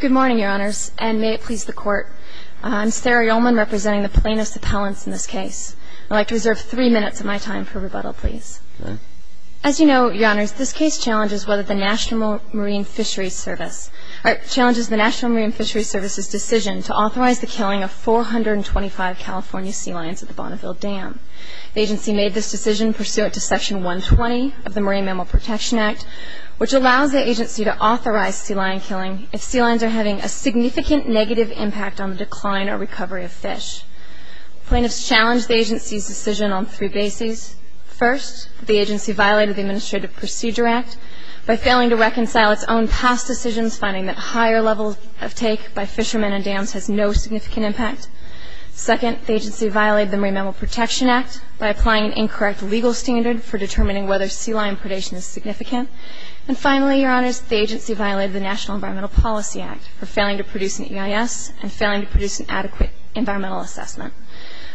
Good morning, Your Honors, and may it please the Court. I'm Sarah Ullman, representing the plaintiffs' appellants in this case. I'd like to reserve three minutes of my time for rebuttal, please. As you know, Your Honors, this case challenges the National Marine Fisheries Service's decision to authorize the killing of 425 California sea lions at the Bonneville Dam. The agency made this decision pursuant to Section 120 of the Marine Mammal Protection Act, which allows the agency to authorize sea lion killing if sea lions are having a significant negative impact on the decline or recovery of fish. Plaintiffs challenged the agency's decision on three bases. First, the agency violated the Administrative Procedure Act by failing to reconcile its own past decisions, finding that higher levels of take by fishermen and dams has no significant impact. Second, the agency violated the Marine Mammal Protection Act by applying an incorrect legal standard for determining whether sea lion predation is significant. And finally, Your Honors, the agency violated the National Environmental Policy Act for failing to produce an EIS and failing to produce an adequate environmental assessment.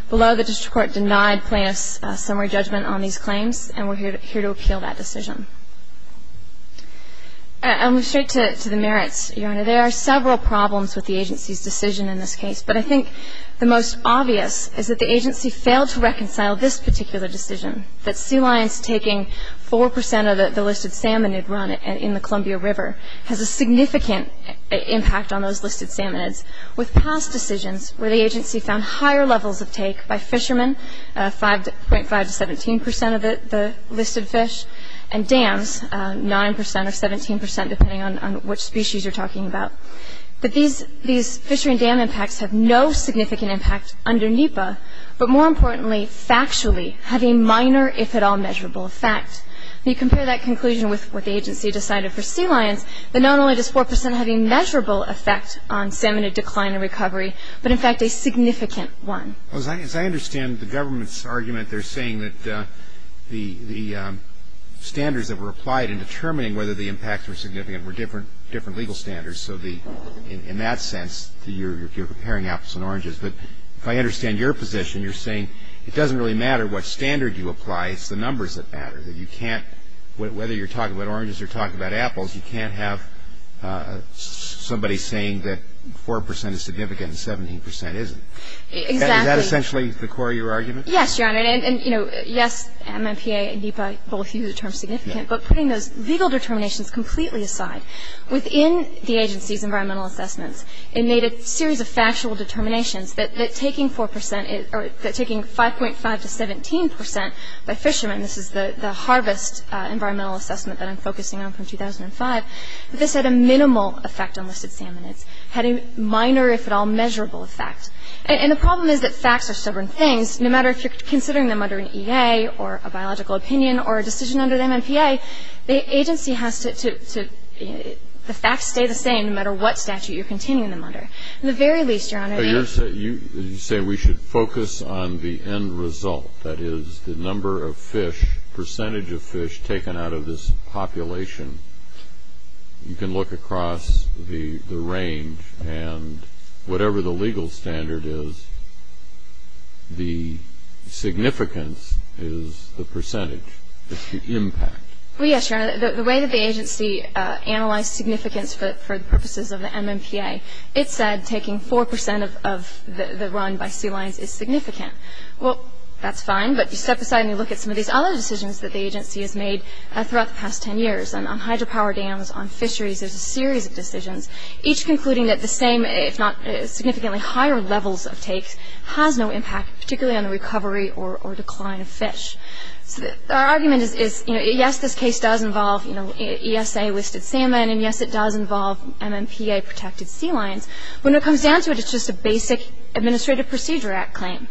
Below, the district court denied plaintiffs' summary judgment on these claims, and we're here to appeal that decision. I'll move straight to the merits, Your Honor. There are several problems with the agency's decision in this case, but I think the most obvious is that the agency failed to reconcile this particular decision, that sea lions taking 4 percent of the listed salmonid run in the Columbia River has a significant impact on those listed salmonids, with past decisions where the agency found higher levels of take by fishermen, 5.5 to 17 percent of the listed fish, and dams, 9 percent or 17 percent, depending on which species you're talking about. But these fishery and dam impacts have no significant impact under NEPA, but more importantly, factually, have a minor, if at all, measurable effect. You compare that conclusion with what the agency decided for sea lions, but not only does 4 percent have a measurable effect on salmonid decline and recovery, but in fact a significant one. As I understand the government's argument, they're saying that the standards that were applied in determining whether the impacts were significant were different legal standards, so in that sense you're comparing apples and oranges. But if I understand your position, you're saying it doesn't really matter what standard you apply, it's the numbers that matter, that you can't, whether you're talking about oranges or talking about apples, you can't have somebody saying that 4 percent is significant and 17 percent isn't. Exactly. Is that essentially the core of your argument? Yes, Your Honor, and, you know, yes, MMPA and NEPA both use the term significant, but putting those legal determinations completely aside, within the agency's environmental assessments, it made a series of factual determinations that taking 5.5 to 17 percent by fishermen, this is the harvest environmental assessment that I'm focusing on from 2005, that this had a minimal effect on listed salmonids, had a minor, if at all, measurable effect. And the problem is that facts are stubborn things. No matter if you're considering them under an EA or a biological opinion or a decision under the MMPA, the agency has to, the facts stay the same no matter what statute you're considering them under. At the very least, Your Honor, you're saying we should focus on the end result, that is the number of fish, percentage of fish taken out of this population. You can look across the range, and whatever the legal standard is, the significance is the percentage. It's the impact. Well, yes, Your Honor, the way that the agency analyzed significance for the purposes of the MMPA, it said taking 4 percent of the run by sea lions is significant. Well, that's fine, but you step aside and you look at some of these other decisions that the agency has made throughout the past 10 years. And on hydropower dams, on fisheries, there's a series of decisions, each concluding that the same, if not significantly higher, levels of takes has no impact, particularly on the recovery or decline of fish. So our argument is, yes, this case does involve ESA-listed salmon, and yes, it does involve MMPA-protected sea lions. When it comes down to it, it's just a basic Administrative Procedure Act claim,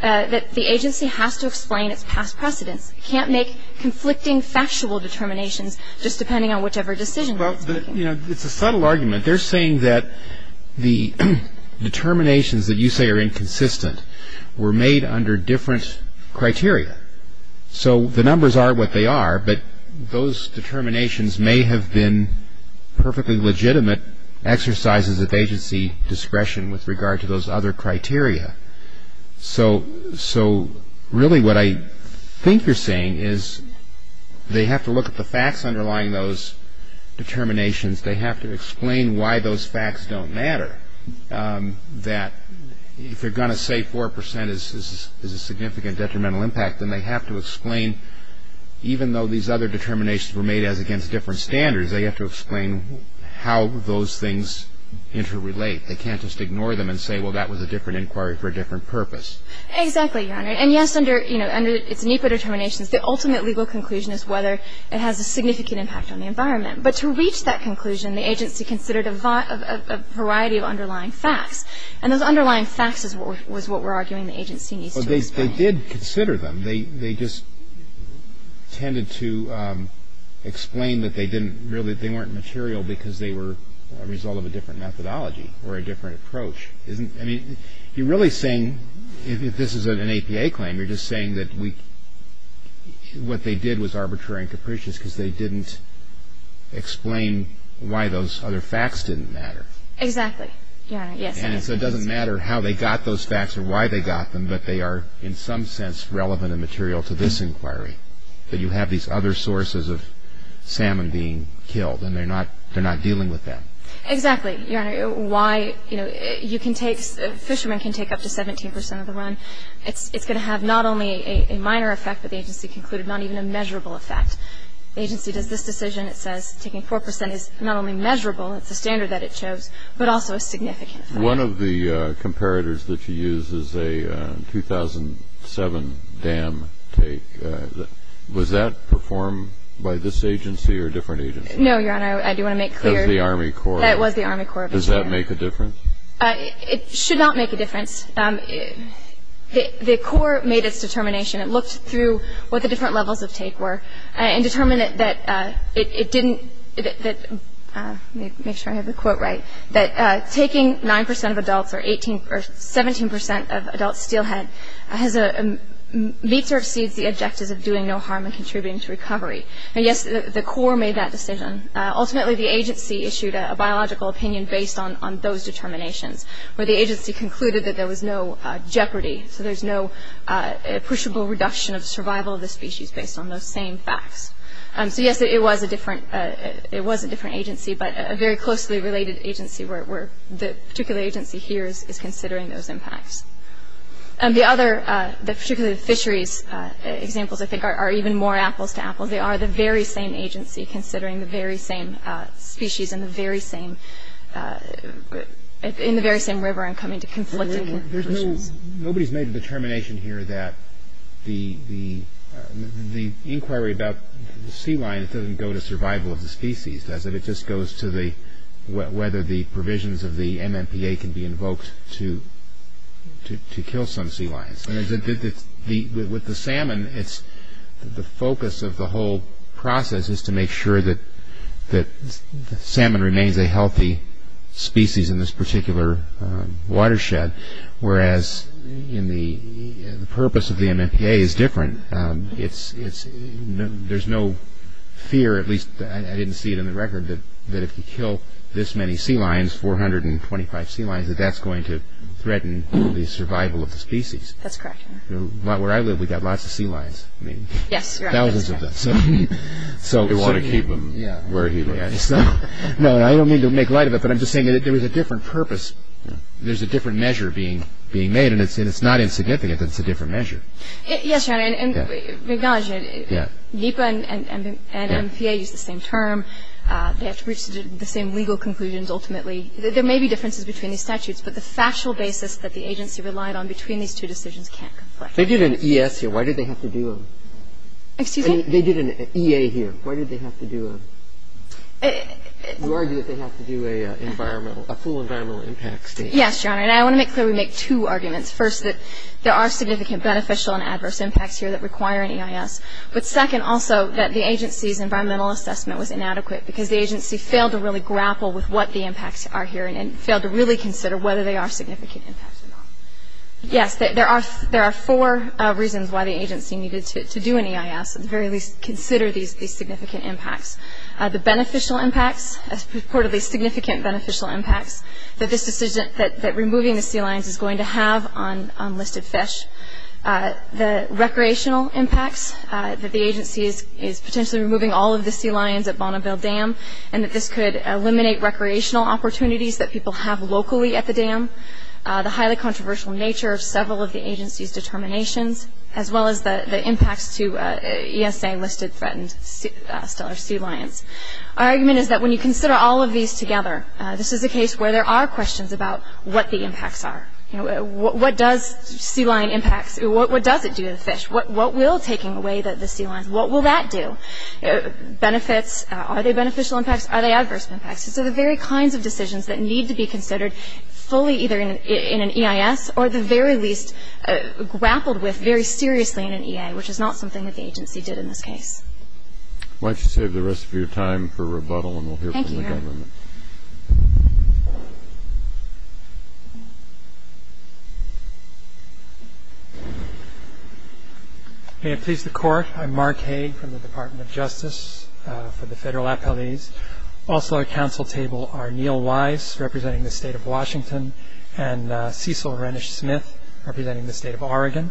that the agency has to explain its past precedents. It can't make conflicting factual determinations just depending on whichever decision it's making. Well, you know, it's a subtle argument. They're saying that the determinations that you say are inconsistent were made under different criteria. So the numbers are what they are, but those determinations may have been perfectly legitimate exercises of agency discretion with regard to those other criteria. So really what I think you're saying is they have to look at the facts underlying those determinations. They have to explain why those facts don't matter, that if you're going to say 4% is a significant detrimental impact, then they have to explain, even though these other determinations were made as against different standards, they have to explain how those things interrelate. They can't just ignore them and say, well, that was a different inquiry for a different purpose. Exactly, Your Honor. And yes, under its NEPA determinations, the ultimate legal conclusion is whether it has a significant impact on the environment. But to reach that conclusion, the agency considered a variety of underlying facts. And those underlying facts is what we're arguing the agency needs to explain. Well, they did consider them. They just tended to explain that they didn't really – that they were a result of a different methodology or a different approach. I mean, you're really saying, if this is an APA claim, you're just saying that what they did was arbitrary and capricious because they didn't explain why those other facts didn't matter. Exactly, Your Honor. Yes. And so it doesn't matter how they got those facts or why they got them, but they are in some sense relevant and material to this inquiry, that you have these other sources of salmon being killed, and they're not dealing with them. Exactly, Your Honor. Why, you know, you can take – fishermen can take up to 17 percent of the run. It's going to have not only a minor effect, but the agency concluded, not even a measurable effect. The agency does this decision. It says taking 4 percent is not only measurable, it's a standard that it chose, but also a significant effect. One of the comparators that you use is a 2007 dam take. Was that performed by this agency or a different agency? No, Your Honor, I do want to make clear. It was the Army Corps. It was the Army Corps. Does that make a difference? It should not make a difference. The Corps made its determination and looked through what the different levels of take were and determined that it didn't – let me make sure I have the quote right – that taking 9 percent of adults or 17 percent of adults steelhead meets or exceeds the objectives of doing no harm and contributing to recovery. And, yes, the Corps made that decision. Ultimately, the agency issued a biological opinion based on those determinations, where the agency concluded that there was no jeopardy, so there's no appreciable reduction of survival of the species based on those same facts. So, yes, it was a different agency, but a very closely related agency where the particular agency here is considering those impacts. And the other – particularly the fisheries examples, I think, are even more apples to apples. They are the very same agency considering the very same species and the very same – in the very same river and coming to conflicting conclusions. Nobody's made a determination here that the inquiry about the sea lions doesn't go to survival of the species, does it? It just goes to whether the provisions of the MMPA can be invoked to kill some sea lions. With the salmon, the focus of the whole process is to make sure that the salmon remains a healthy species in this particular watershed, whereas the purpose of the MMPA is different. There's no fear, at least I didn't see it in the record, that if you kill this many sea lions, 425 sea lions, that that's going to threaten the survival of the species. That's correct. Where I live, we've got lots of sea lions. Yes, you're right. Thousands of them. So we want to keep them where he lives. No, I don't mean to make light of it, but I'm just saying that there is a different purpose. There's a different measure being made, and it's not insignificant. It's a different measure. Yes, Your Honor, and I acknowledge it. NEPA and MMPA use the same term. They have to reach the same legal conclusions ultimately. There may be differences between the statutes, but the factual basis that the agency relied on between these two decisions can't conflict. They did an E.S. here. Why did they have to do a – Excuse me? They did an E.A. here. Why did they have to do a – you argue that they have to do a full environmental impact statement. Yes, Your Honor, and I want to make clear we make two arguments. First, that there are significant beneficial and adverse impacts here that require an E.I.S., but second also that the agency's environmental assessment was inadequate because the agency failed to really grapple with what the impacts are here and failed to really consider whether they are significant impacts or not. Yes, there are four reasons why the agency needed to do an E.I.S., at the very least consider these significant impacts. The beneficial impacts, purportedly significant beneficial impacts, that this decision – that removing the sea lions is going to have on listed fish. The recreational impacts, that the agency is potentially removing all of the sea lions at Bonneville Dam and that this could eliminate recreational opportunities that people have locally at the dam. The highly controversial nature of several of the agency's determinations, as well as the impacts to E.S.A. listed threatened stellar sea lions. Our argument is that when you consider all of these together, this is a case where there are questions about what the impacts are. What does sea lion impacts – what does it do to the fish? What will taking away the sea lions – what will that do? Benefits – are they beneficial impacts? Are they adverse impacts? These are the very kinds of decisions that need to be considered fully either in an E.I.S. or at the very least grappled with very seriously in an E.A., which is not something that the agency did in this case. Why don't you save the rest of your time for rebuttal and we'll hear from the government. Thank you, Eric. Mark Hague May it please the court, I'm Mark Hague from the Department of Justice for the federal appellees. Also at council table are Neil Weiss, representing the state of Washington, and Cecil Rennish-Smith, representing the state of Oregon.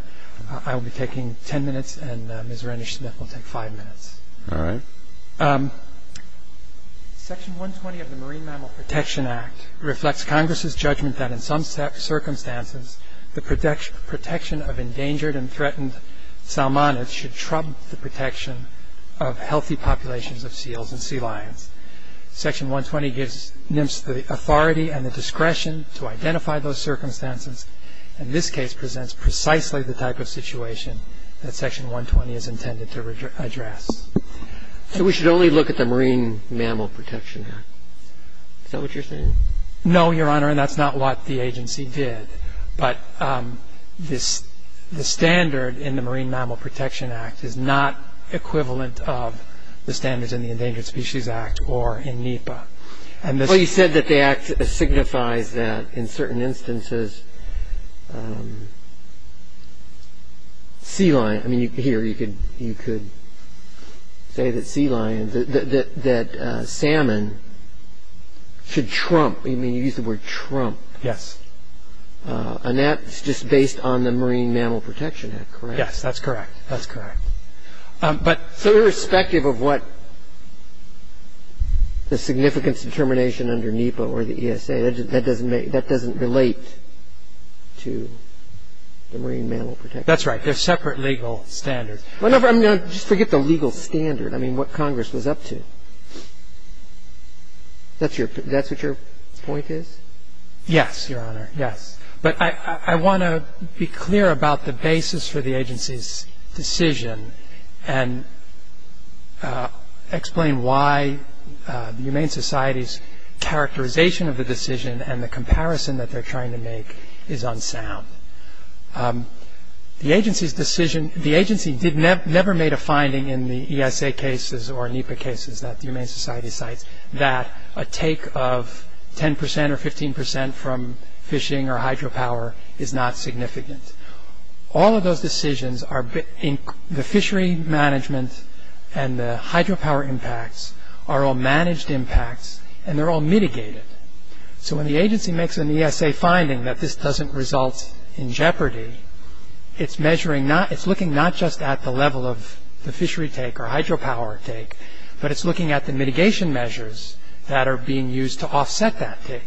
I will be taking ten minutes and Ms. Rennish-Smith will take five minutes. All right. Section 120 of the Marine Mammal Protection Act reflects Congress's judgment that in some circumstances the protection of endangered and threatened salmonids should trump the protection of healthy populations of seals and sea lions. Section 120 gives NMFS the authority and the discretion to identify those circumstances and this case presents precisely the type of situation that section 120 is intended to address. So we should only look at the Marine Mammal Protection Act. Is that what you're saying? No, Your Honor, and that's not what the agency did. But the standard in the Marine Mammal Protection Act is not equivalent of the standards in the Endangered Species Act or in NEPA. Well, you said that the act signifies that in certain instances sea lions, I mean here you could say that sea lions, that salmon should trump, I mean you used the word trump. Yes. And that's just based on the Marine Mammal Protection Act, correct? Yes, that's correct. That's correct. So irrespective of what the significance determination under NEPA or the ESA, that doesn't relate to the Marine Mammal Protection Act? That's right. They're separate legal standards. Just forget the legal standard. I mean what Congress was up to. That's what your point is? Yes, Your Honor, yes. But I want to be clear about the basis for the agency's decision and explain why the Humane Society's characterization of the decision and the comparison that they're trying to make is unsound. The agency never made a finding in the ESA cases or NEPA cases that the Humane Society cites that a take of 10% or 15% from fishing or hydropower is not significant. All of those decisions are in the fishery management and the hydropower impacts are all managed impacts and they're all mitigated. So when the agency makes an ESA finding that this doesn't result in jeopardy, it's looking not just at the level of the fishery take or hydropower take, but it's looking at the mitigation measures that are being used to offset that take.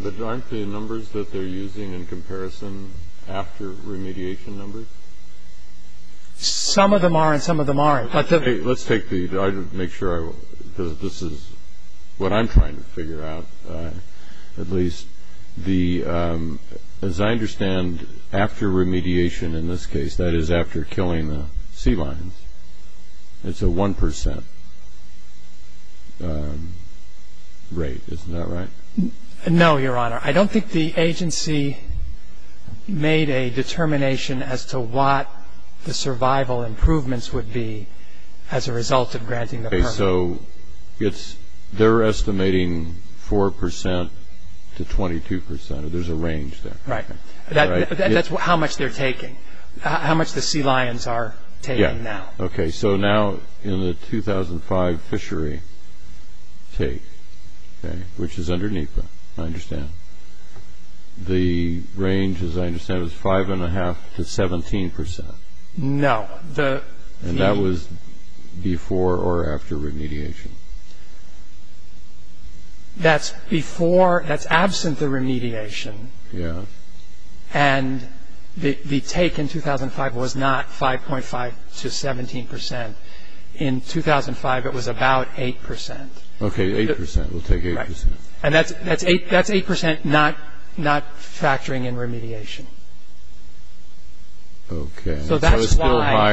But aren't the numbers that they're using in comparison after remediation numbers? Some of them are and some of them aren't. Let's take the other to make sure this is what I'm trying to figure out at least. As I understand, after remediation in this case, that is after killing the sea lions, it's a 1% rate, isn't that right? No, Your Honor. I don't think the agency made a determination as to what the survival improvements would be as a result of granting the permit. So they're estimating 4% to 22% or there's a range there. Right. That's how much they're taking, how much the sea lions are taking now. Okay, so now in the 2005 fishery take, which is under NEPA, I understand, the range, as I understand, is 5.5% to 17%. No. And that was before or after remediation? That's before, that's absent the remediation. Yeah. And the take in 2005 was not 5.5% to 17%. In 2005, it was about 8%. Okay, 8%. We'll take 8%. And that's 8% not factoring in remediation. Okay. So that's why...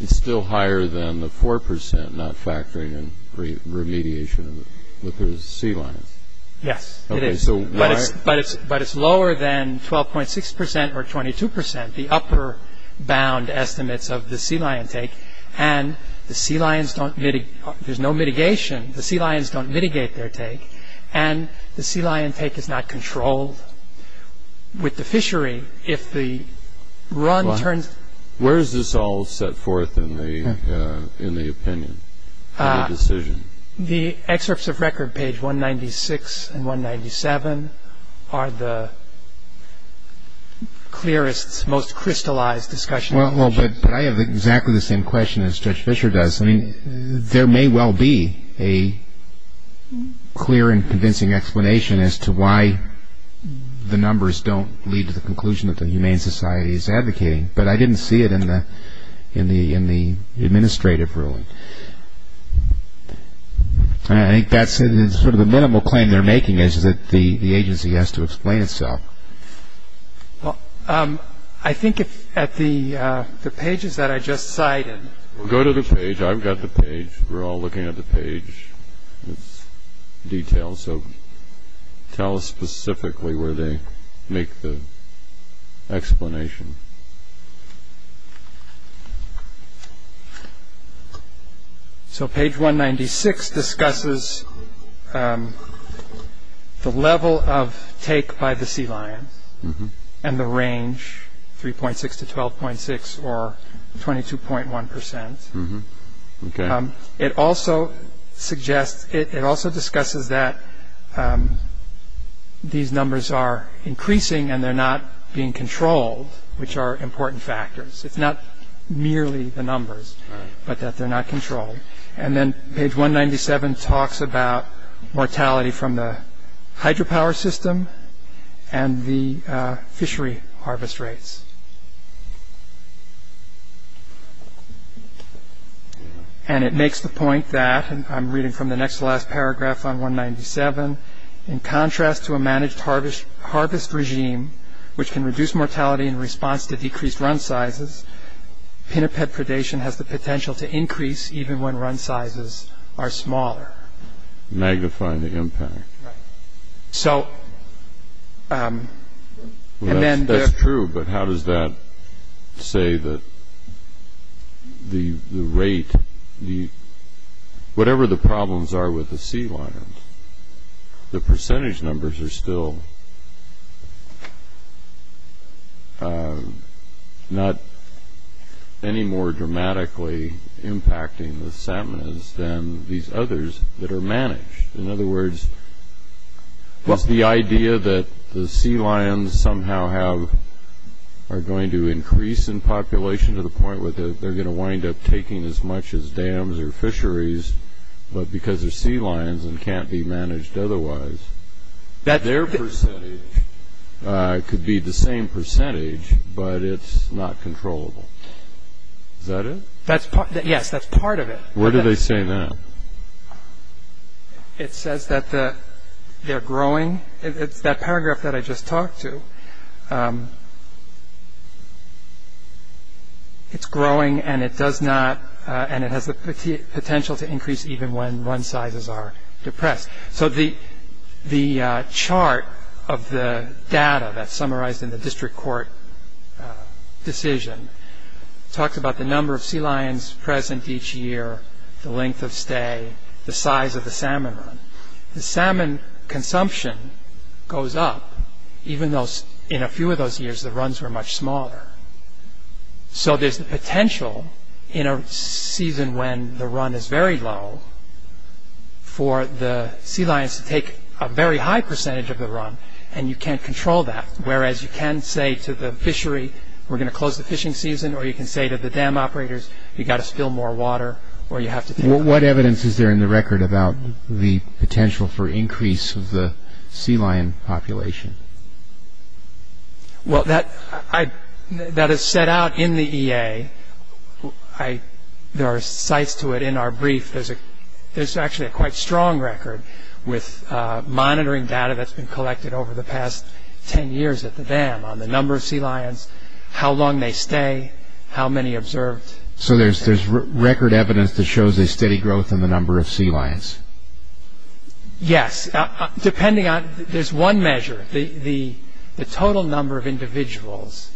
It's still higher than the 4% not factoring in remediation of the sea lions. Yes, it is. But it's lower than 12.6% or 22%, the upper bound estimates of the sea lion take, and there's no mitigation. The sea lions don't mitigate their take, and the sea lion take is not controlled. With the fishery, if the run turns... Where is this all set forth in the opinion, in the decision? The excerpts of record, page 196 and 197, are the clearest, most crystallized discussion... Well, but I have exactly the same question as Judge Fisher does. I mean, there may well be a clear and convincing explanation as to why the numbers don't lead to the conclusion that the Humane Society is advocating, but I didn't see it in the administrative ruling. I think that's sort of the minimal claim they're making, is that the agency has to explain itself. Well, I think at the pages that I just cited... Go to the page. I've got the page. We're all looking at the page with details, so tell us specifically where they make the explanation. So page 196 discusses the level of take by the sea lions, and the range, 3.6 to 12.6, or 22.1%. It also discusses that these numbers are increasing and they're not being controlled, which are important factors. It's not merely the numbers, but that they're not controlled. And then page 197 talks about mortality from the hydropower system and the fishery harvest rates. And it makes the point that, and I'm reading from the next to last paragraph on 197, in contrast to a managed harvest regime, which can reduce mortality in response to decreased run sizes, pinniped predation has the potential to increase even when run sizes are smaller. Magnifying the impact. So... That's true, but how does that say that the rate, whatever the problems are with the sea lions, the percentage numbers are still not any more dramatically impacting the salmonids than these others that are managed. In other words, is the idea that the sea lions somehow are going to increase in population to the point where they're going to wind up taking as much as dams or fisheries, but because they're sea lions and can't be managed otherwise, their percentage could be the same percentage, but it's not controllable. Is that it? Yes, that's part of it. Where do they say that? It says that they're growing. It's that paragraph that I just talked to. It's growing and it does not, and it has the potential to increase even when run sizes are depressed. So the chart of the data that's summarized in the district court decision talks about the number of sea lions present each year, the length of stay, the size of the salmon run. The salmon consumption goes up, even though in a few of those years the runs were much smaller. So there's the potential in a season when the run is very low for the sea lions to take a very high percentage of the run, and you can't control that, whereas you can say to the fishery, we're going to close the fishing season, or you can say to the dam operators, you've got to spill more water. What evidence is there in the record about the potential for increase of the sea lion population? Well, that is set out in the EA. There are sites to it in our brief. There's actually a quite strong record with monitoring data that's been collected over the past 10 years at the dam on the number of sea lions, how long they stay, how many observed. So there's record evidence that shows a steady growth in the number of sea lions? Yes. There's one measure. The total number of individuals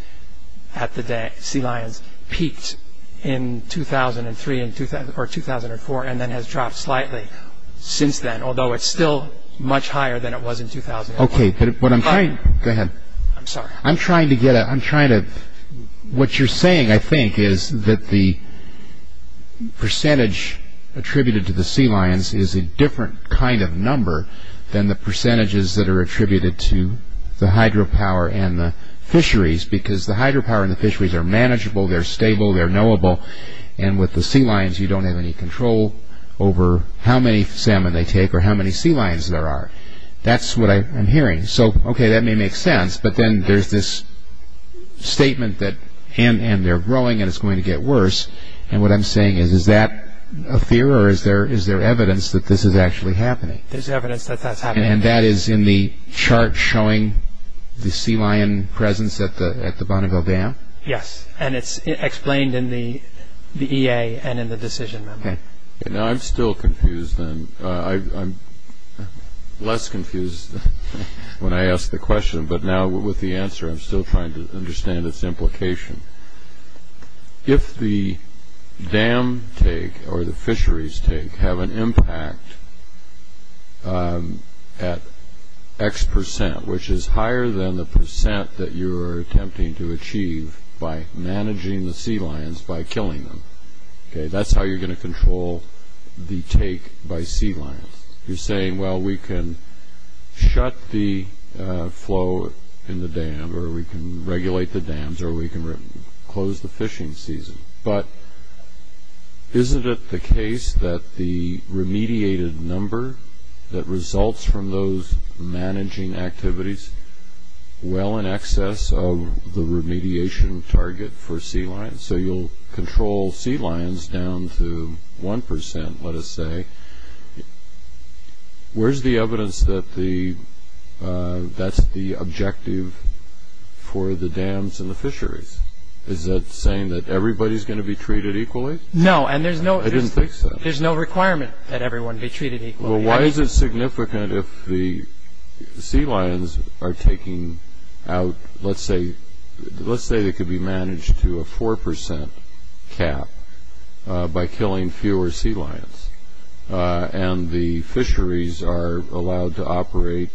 at the sea lions peaked in 2003 or 2004 and then has dropped slightly since then, although it's still much higher than it was in 2004. Okay, but what I'm trying... Go ahead. I'm sorry. I'm trying to get a... I'm trying to... What you're saying, I think, is that the percentage attributed to the sea lions is a different kind of number than the percentages that are attributed to the hydropower and the fisheries, because the hydropower and the fisheries are manageable, they're stable, they're knowable, and with the sea lions, you don't have any control over how many salmon they take or how many sea lions there are. That's what I'm hearing. So, okay, that may make sense, but then there's this statement that, and they're growing and it's going to get worse, and what I'm saying is, is that a fear or is there evidence that this is actually happening? There's evidence that that's happening. And that is in the chart showing the sea lion presence at the Bonneville Dam? Yes, and it's explained in the EA and in the decision memo. Okay. Now, I'm still confused then. I'm less confused when I ask the question, but now with the answer I'm still trying to understand its implication. If the dam take or the fisheries take have an impact at X percent, which is higher than the percent that you are attempting to achieve by managing the sea lions by killing them, okay, that's how you're going to control the take by sea lions. You're saying, well, we can shut the flow in the dam or we can regulate the dams or we can close the fishing season. But isn't it the case that the remediated number that results from those managing activities well in excess of the remediation target for sea lions? So you'll control sea lions down to 1 percent, let us say. Where's the evidence that that's the objective for the dams and the fisheries? Is that saying that everybody's going to be treated equally? No, and there's no requirement that everyone be treated equally. Well, why is it significant if the sea lions are taking out, let's say they could be managed to a 4 percent cap by killing fewer sea lions and the fisheries are allowed to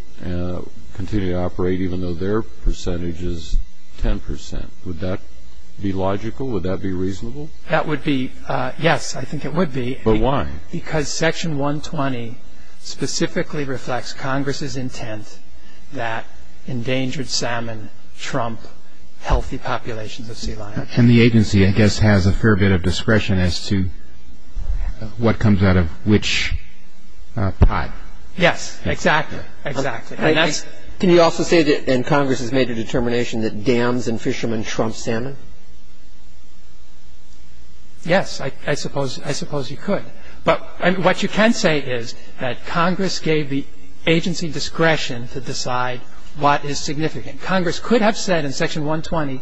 continue to operate even though their percentage is 10 percent? Would that be logical? Would that be reasonable? Yes, I think it would be. But why? Because Section 120 specifically reflects Congress's intent that endangered salmon trump healthy populations of sea lions. And the agency, I guess, has a fair bit of discretion as to what comes out of which pot. Yes, exactly, exactly. Can you also say that Congress has made a determination that dams and fishermen trump salmon? Yes, I suppose you could. But what you can say is that Congress gave the agency discretion to decide what is significant. Congress could have said in Section 120,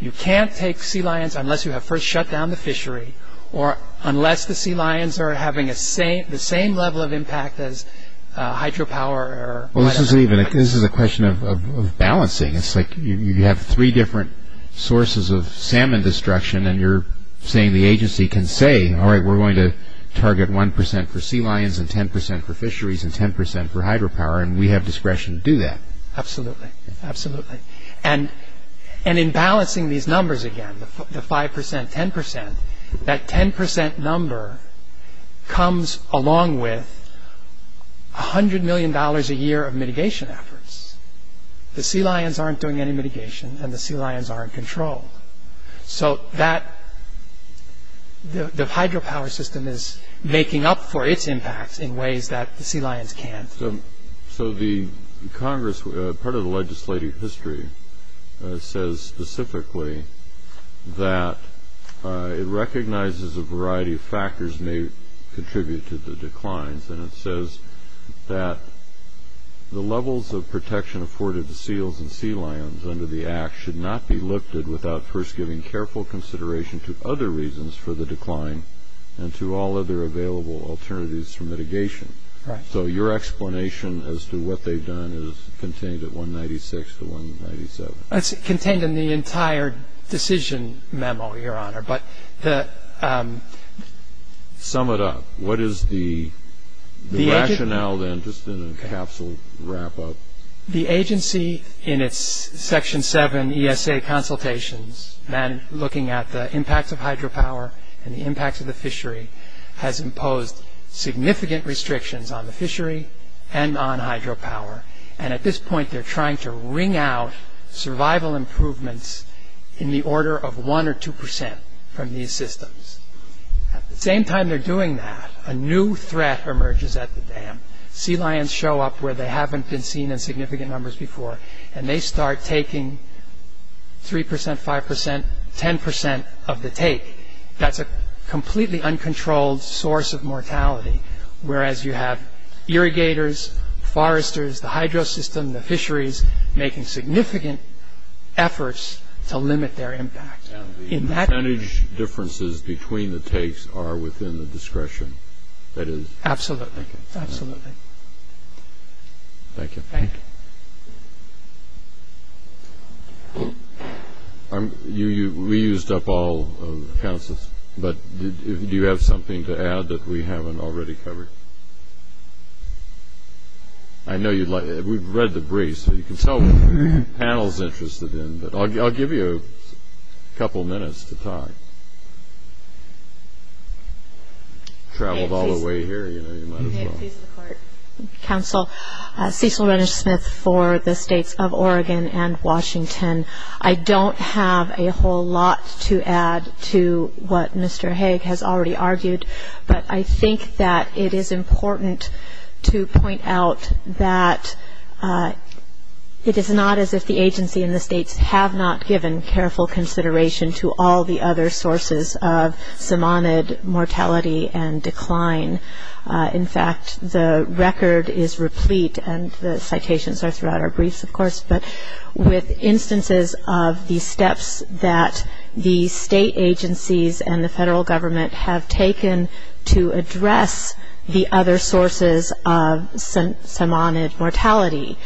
you can't take sea lions unless you have first shut down the fishery or unless the sea lions are having the same level of impact as hydropower or whatever. This is a question of balancing. It's like you have three different sources of salmon destruction and you're saying the agency can say, all right, we're going to target 1 percent for sea lions and 10 percent for fisheries and 10 percent for hydropower and we have discretion to do that. Absolutely, absolutely. And in balancing these numbers again, the 5 percent, 10 percent, that 10 percent number comes along with $100 million a year of mitigation efforts. The sea lions aren't doing any mitigation and the sea lions aren't controlled. So the hydropower system is making up for its impact in ways that the sea lions can't. So the Congress, part of the legislative history, says specifically that it recognizes a variety of factors may contribute to the declines and it says that the levels of protection afforded to seals and sea lions under the Act should not be lifted without first giving careful consideration to other reasons for the decline and to all other available alternatives for mitigation. So your explanation as to what they've done is contained at 196 to 197. It's contained in the entire decision memo, Your Honor. But the – Sum it up. What is the rationale then, just in a capsule wrap-up? The agency, in its Section 7 ESA consultations, looking at the impacts of hydropower and the impacts of the fishery, has imposed significant restrictions on the fishery and on hydropower. And at this point, they're trying to wring out survival improvements in the order of 1 or 2 percent from these systems. At the same time they're doing that, a new threat emerges at the dam. Sea lions show up where they haven't been seen in significant numbers before and they start taking 3 percent, 5 percent, 10 percent of the take. That's a completely uncontrolled source of mortality, whereas you have irrigators, foresters, the hydro system, the fisheries, making significant efforts to limit their impact. And the percentage differences between the takes are within the discretion that is – Absolutely, absolutely. Thank you. Thank you. We used up all of the counsels, but do you have something to add that we haven't already covered? I know you'd like – we've read the briefs, so you can tell me what the panel's interested in, but I'll give you a couple minutes to talk. Traveled all the way here, you know, you might as well. Counsel, Cecil Renish-Smith for the states of Oregon and Washington. I don't have a whole lot to add to what Mr. Haig has already argued, but I think that it is important to point out that it is not as if the agency and the states have not given careful consideration to all the other sources of somonid mortality and decline. In fact, the record is replete, and the citations are throughout our briefs, of course, but with instances of the steps that the state agencies and the federal government have taken to address the other sources of somonid mortality.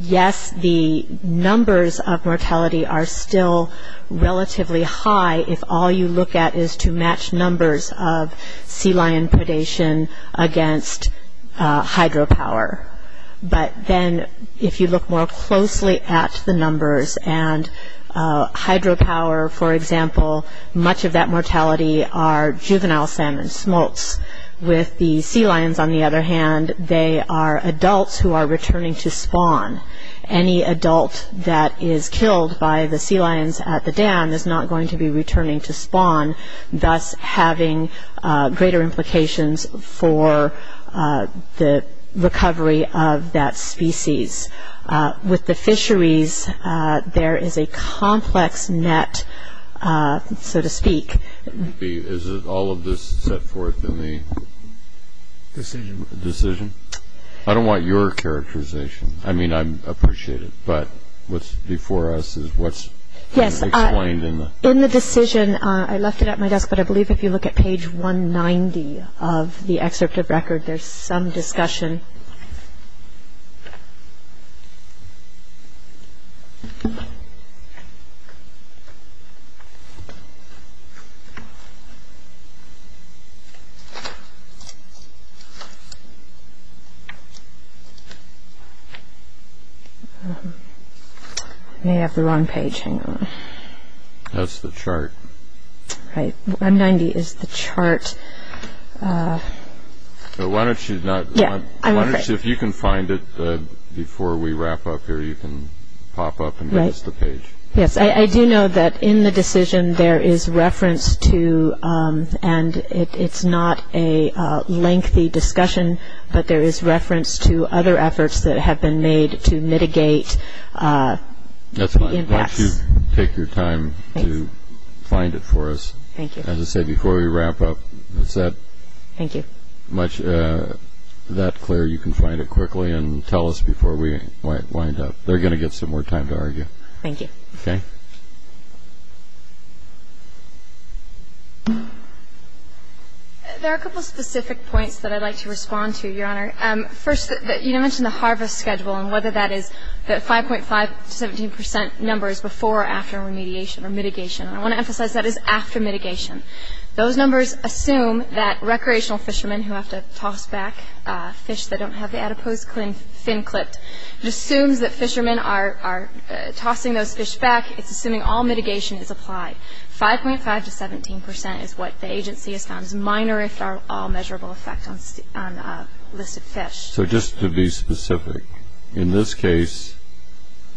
Yes, the numbers of mortality are still relatively high if all you look at is to match numbers of sea lion predation against hydropower, but then if you look more closely at the numbers and hydropower, for example, much of that mortality are juvenile salmon, smolts. With the sea lions, on the other hand, they are adults who are returning to spawn. Any adult that is killed by the sea lions at the dam is not going to be returning to spawn, thus having greater implications for the recovery of that species. With the fisheries, there is a complex net, so to speak. Is all of this set forth in the decision? I don't want your characterization. I mean, I appreciate it, but what's before us is what's explained in the decision. I left it at my desk, but I believe if you look at page 190 of the excerpt of record, there's some discussion. I may have the wrong page. Hang on. That's the chart. Right. 190 is the chart. Why don't you, if you can find it before we wrap up here, you can pop up and get us the page. Yes, I do know that in the decision there is reference to, and it's not a lengthy discussion, but there is reference to other efforts that have been made to mitigate the impacts. Why don't you take your time to find it for us. Thank you. As I said, before we wrap up, it's that clear you can find it quickly and tell us before we wind up. They're going to get some more time to argue. Thank you. Okay. There are a couple specific points that I'd like to respond to, Your Honor. First, you mentioned the harvest schedule and whether that is the 5.5 to 17 percent numbers before or after remediation or mitigation. I want to emphasize that is after mitigation. Those numbers assume that recreational fishermen who have to toss back fish that don't have the adipose fin clipped. It assumes that fishermen are tossing those fish back. It's assuming all mitigation is applied. 5.5 to 17 percent is what the agency has found. It's a minor, if at all, measurable effect on listed fish. So just to be specific, in this case,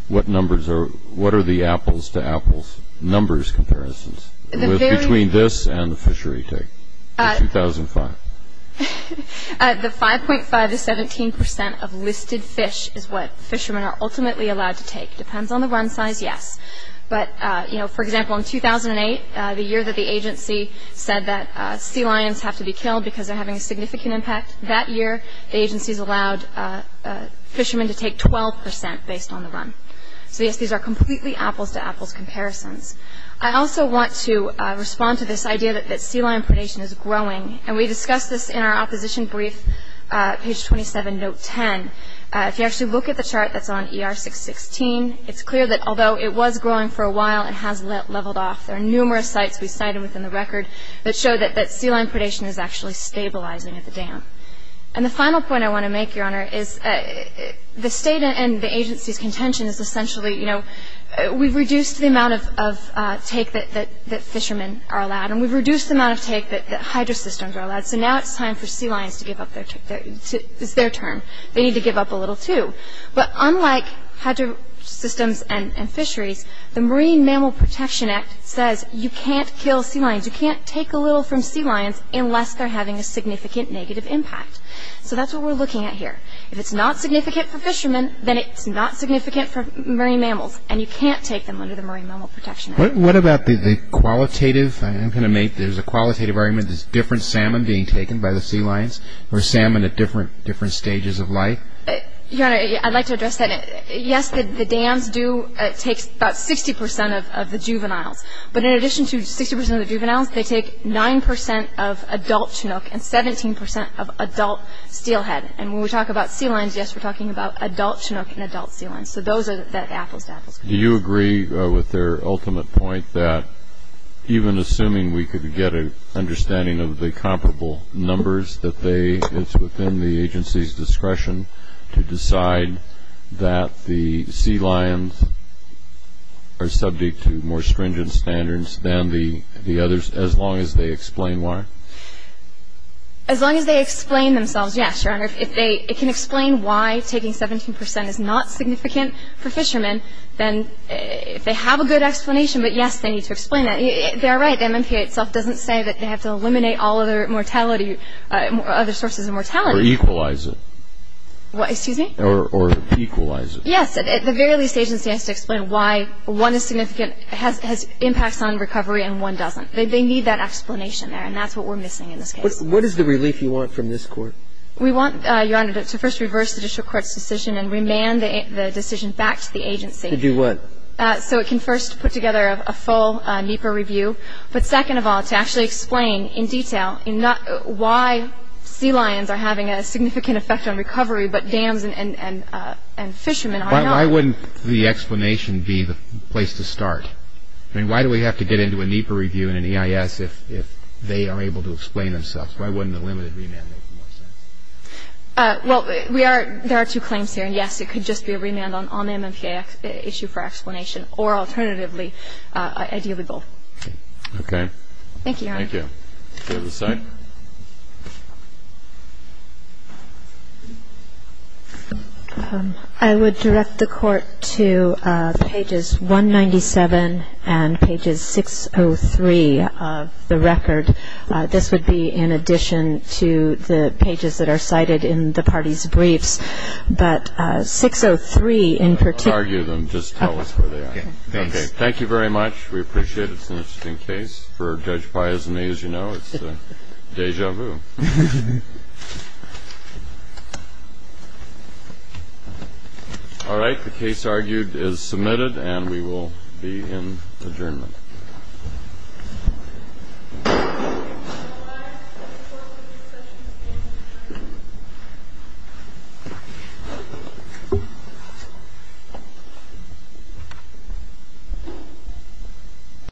what are the apples to apples? Numbers comparisons between this and the fishery take in 2005. The 5.5 to 17 percent of listed fish is what fishermen are ultimately allowed to take. It depends on the run size, yes. But, you know, for example, in 2008, the year that the agency said that sea lions have to be killed because they're having a significant impact, that year the agency has allowed fishermen to take 12 percent based on the run. So, yes, these are completely apples to apples comparisons. I also want to respond to this idea that sea lion predation is growing. And we discussed this in our opposition brief, page 27, note 10. If you actually look at the chart that's on ER 616, it's clear that although it was growing for a while, it has leveled off. There are numerous sites we cited within the record that show that sea lion predation is actually stabilizing at the dam. And the final point I want to make, Your Honor, is the state and the agency's contention is essentially, you know, we've reduced the amount of take that fishermen are allowed and we've reduced the amount of take that hydro systems are allowed. So now it's time for sea lions to give up their turn. They need to give up a little too. But unlike hydro systems and fisheries, the Marine Mammal Protection Act says you can't kill sea lions. You can't take a little from sea lions unless they're having a significant negative impact. So that's what we're looking at here. If it's not significant for fishermen, then it's not significant for marine mammals. And you can't take them under the Marine Mammal Protection Act. What about the qualitative? I'm going to make this a qualitative argument. Is different salmon being taken by the sea lions or salmon at different stages of life? Your Honor, I'd like to address that. Yes, the dams do take about 60 percent of the juveniles. But in addition to 60 percent of the juveniles, they take 9 percent of adult Chinook and 17 percent of adult steelhead. And when we talk about sea lions, yes, we're talking about adult Chinook and adult sea lions. So those are the apples to apples. Do you agree with their ultimate point that even assuming we could get an understanding of the comparable numbers that they, it's within the agency's discretion to decide that the sea lions are subject to more stringent standards than the others as long as they explain why? As long as they explain themselves, yes, Your Honor. If they, it can explain why taking 17 percent is not significant for fishermen, then if they have a good explanation, but yes, they need to explain that. They are right. The MMPA itself doesn't say that they have to eliminate all other mortality, other sources of mortality. Or equalize it. What, excuse me? Or equalize it. Yes. The very least agency has to explain why one is significant, has impacts on recovery, and one doesn't. They need that explanation there, and that's what we're missing in this case. What is the relief you want from this court? We want, Your Honor, to first reverse the judicial court's decision and remand the decision back to the agency. To do what? So it can first put together a full NEPA review. But second of all, to actually explain in detail why sea lions are having a significant effect on recovery, but dams and fishermen are not. Why wouldn't the explanation be the place to start? I mean, why do we have to get into a NEPA review and an EIS if they are able to explain themselves? Why wouldn't a limited remand make more sense? Well, we are, there are two claims here. And yes, it could just be a remand on the MMPA issue for explanation. Or alternatively, ideally both. Okay. Thank you, Your Honor. Thank you. Do we have a second? I would direct the Court to pages 197 and pages 603 of the record. This would be in addition to the pages that are cited in the parties' briefs. But 603 in particular. I won't argue them. Just tell us where they are. Okay. Thanks. Okay. Thank you very much. We appreciate it. It's an interesting case. For Judge Baez and me, as you know, it's deja vu. All right. The case argued is submitted, and we will be in adjournment. Thank you.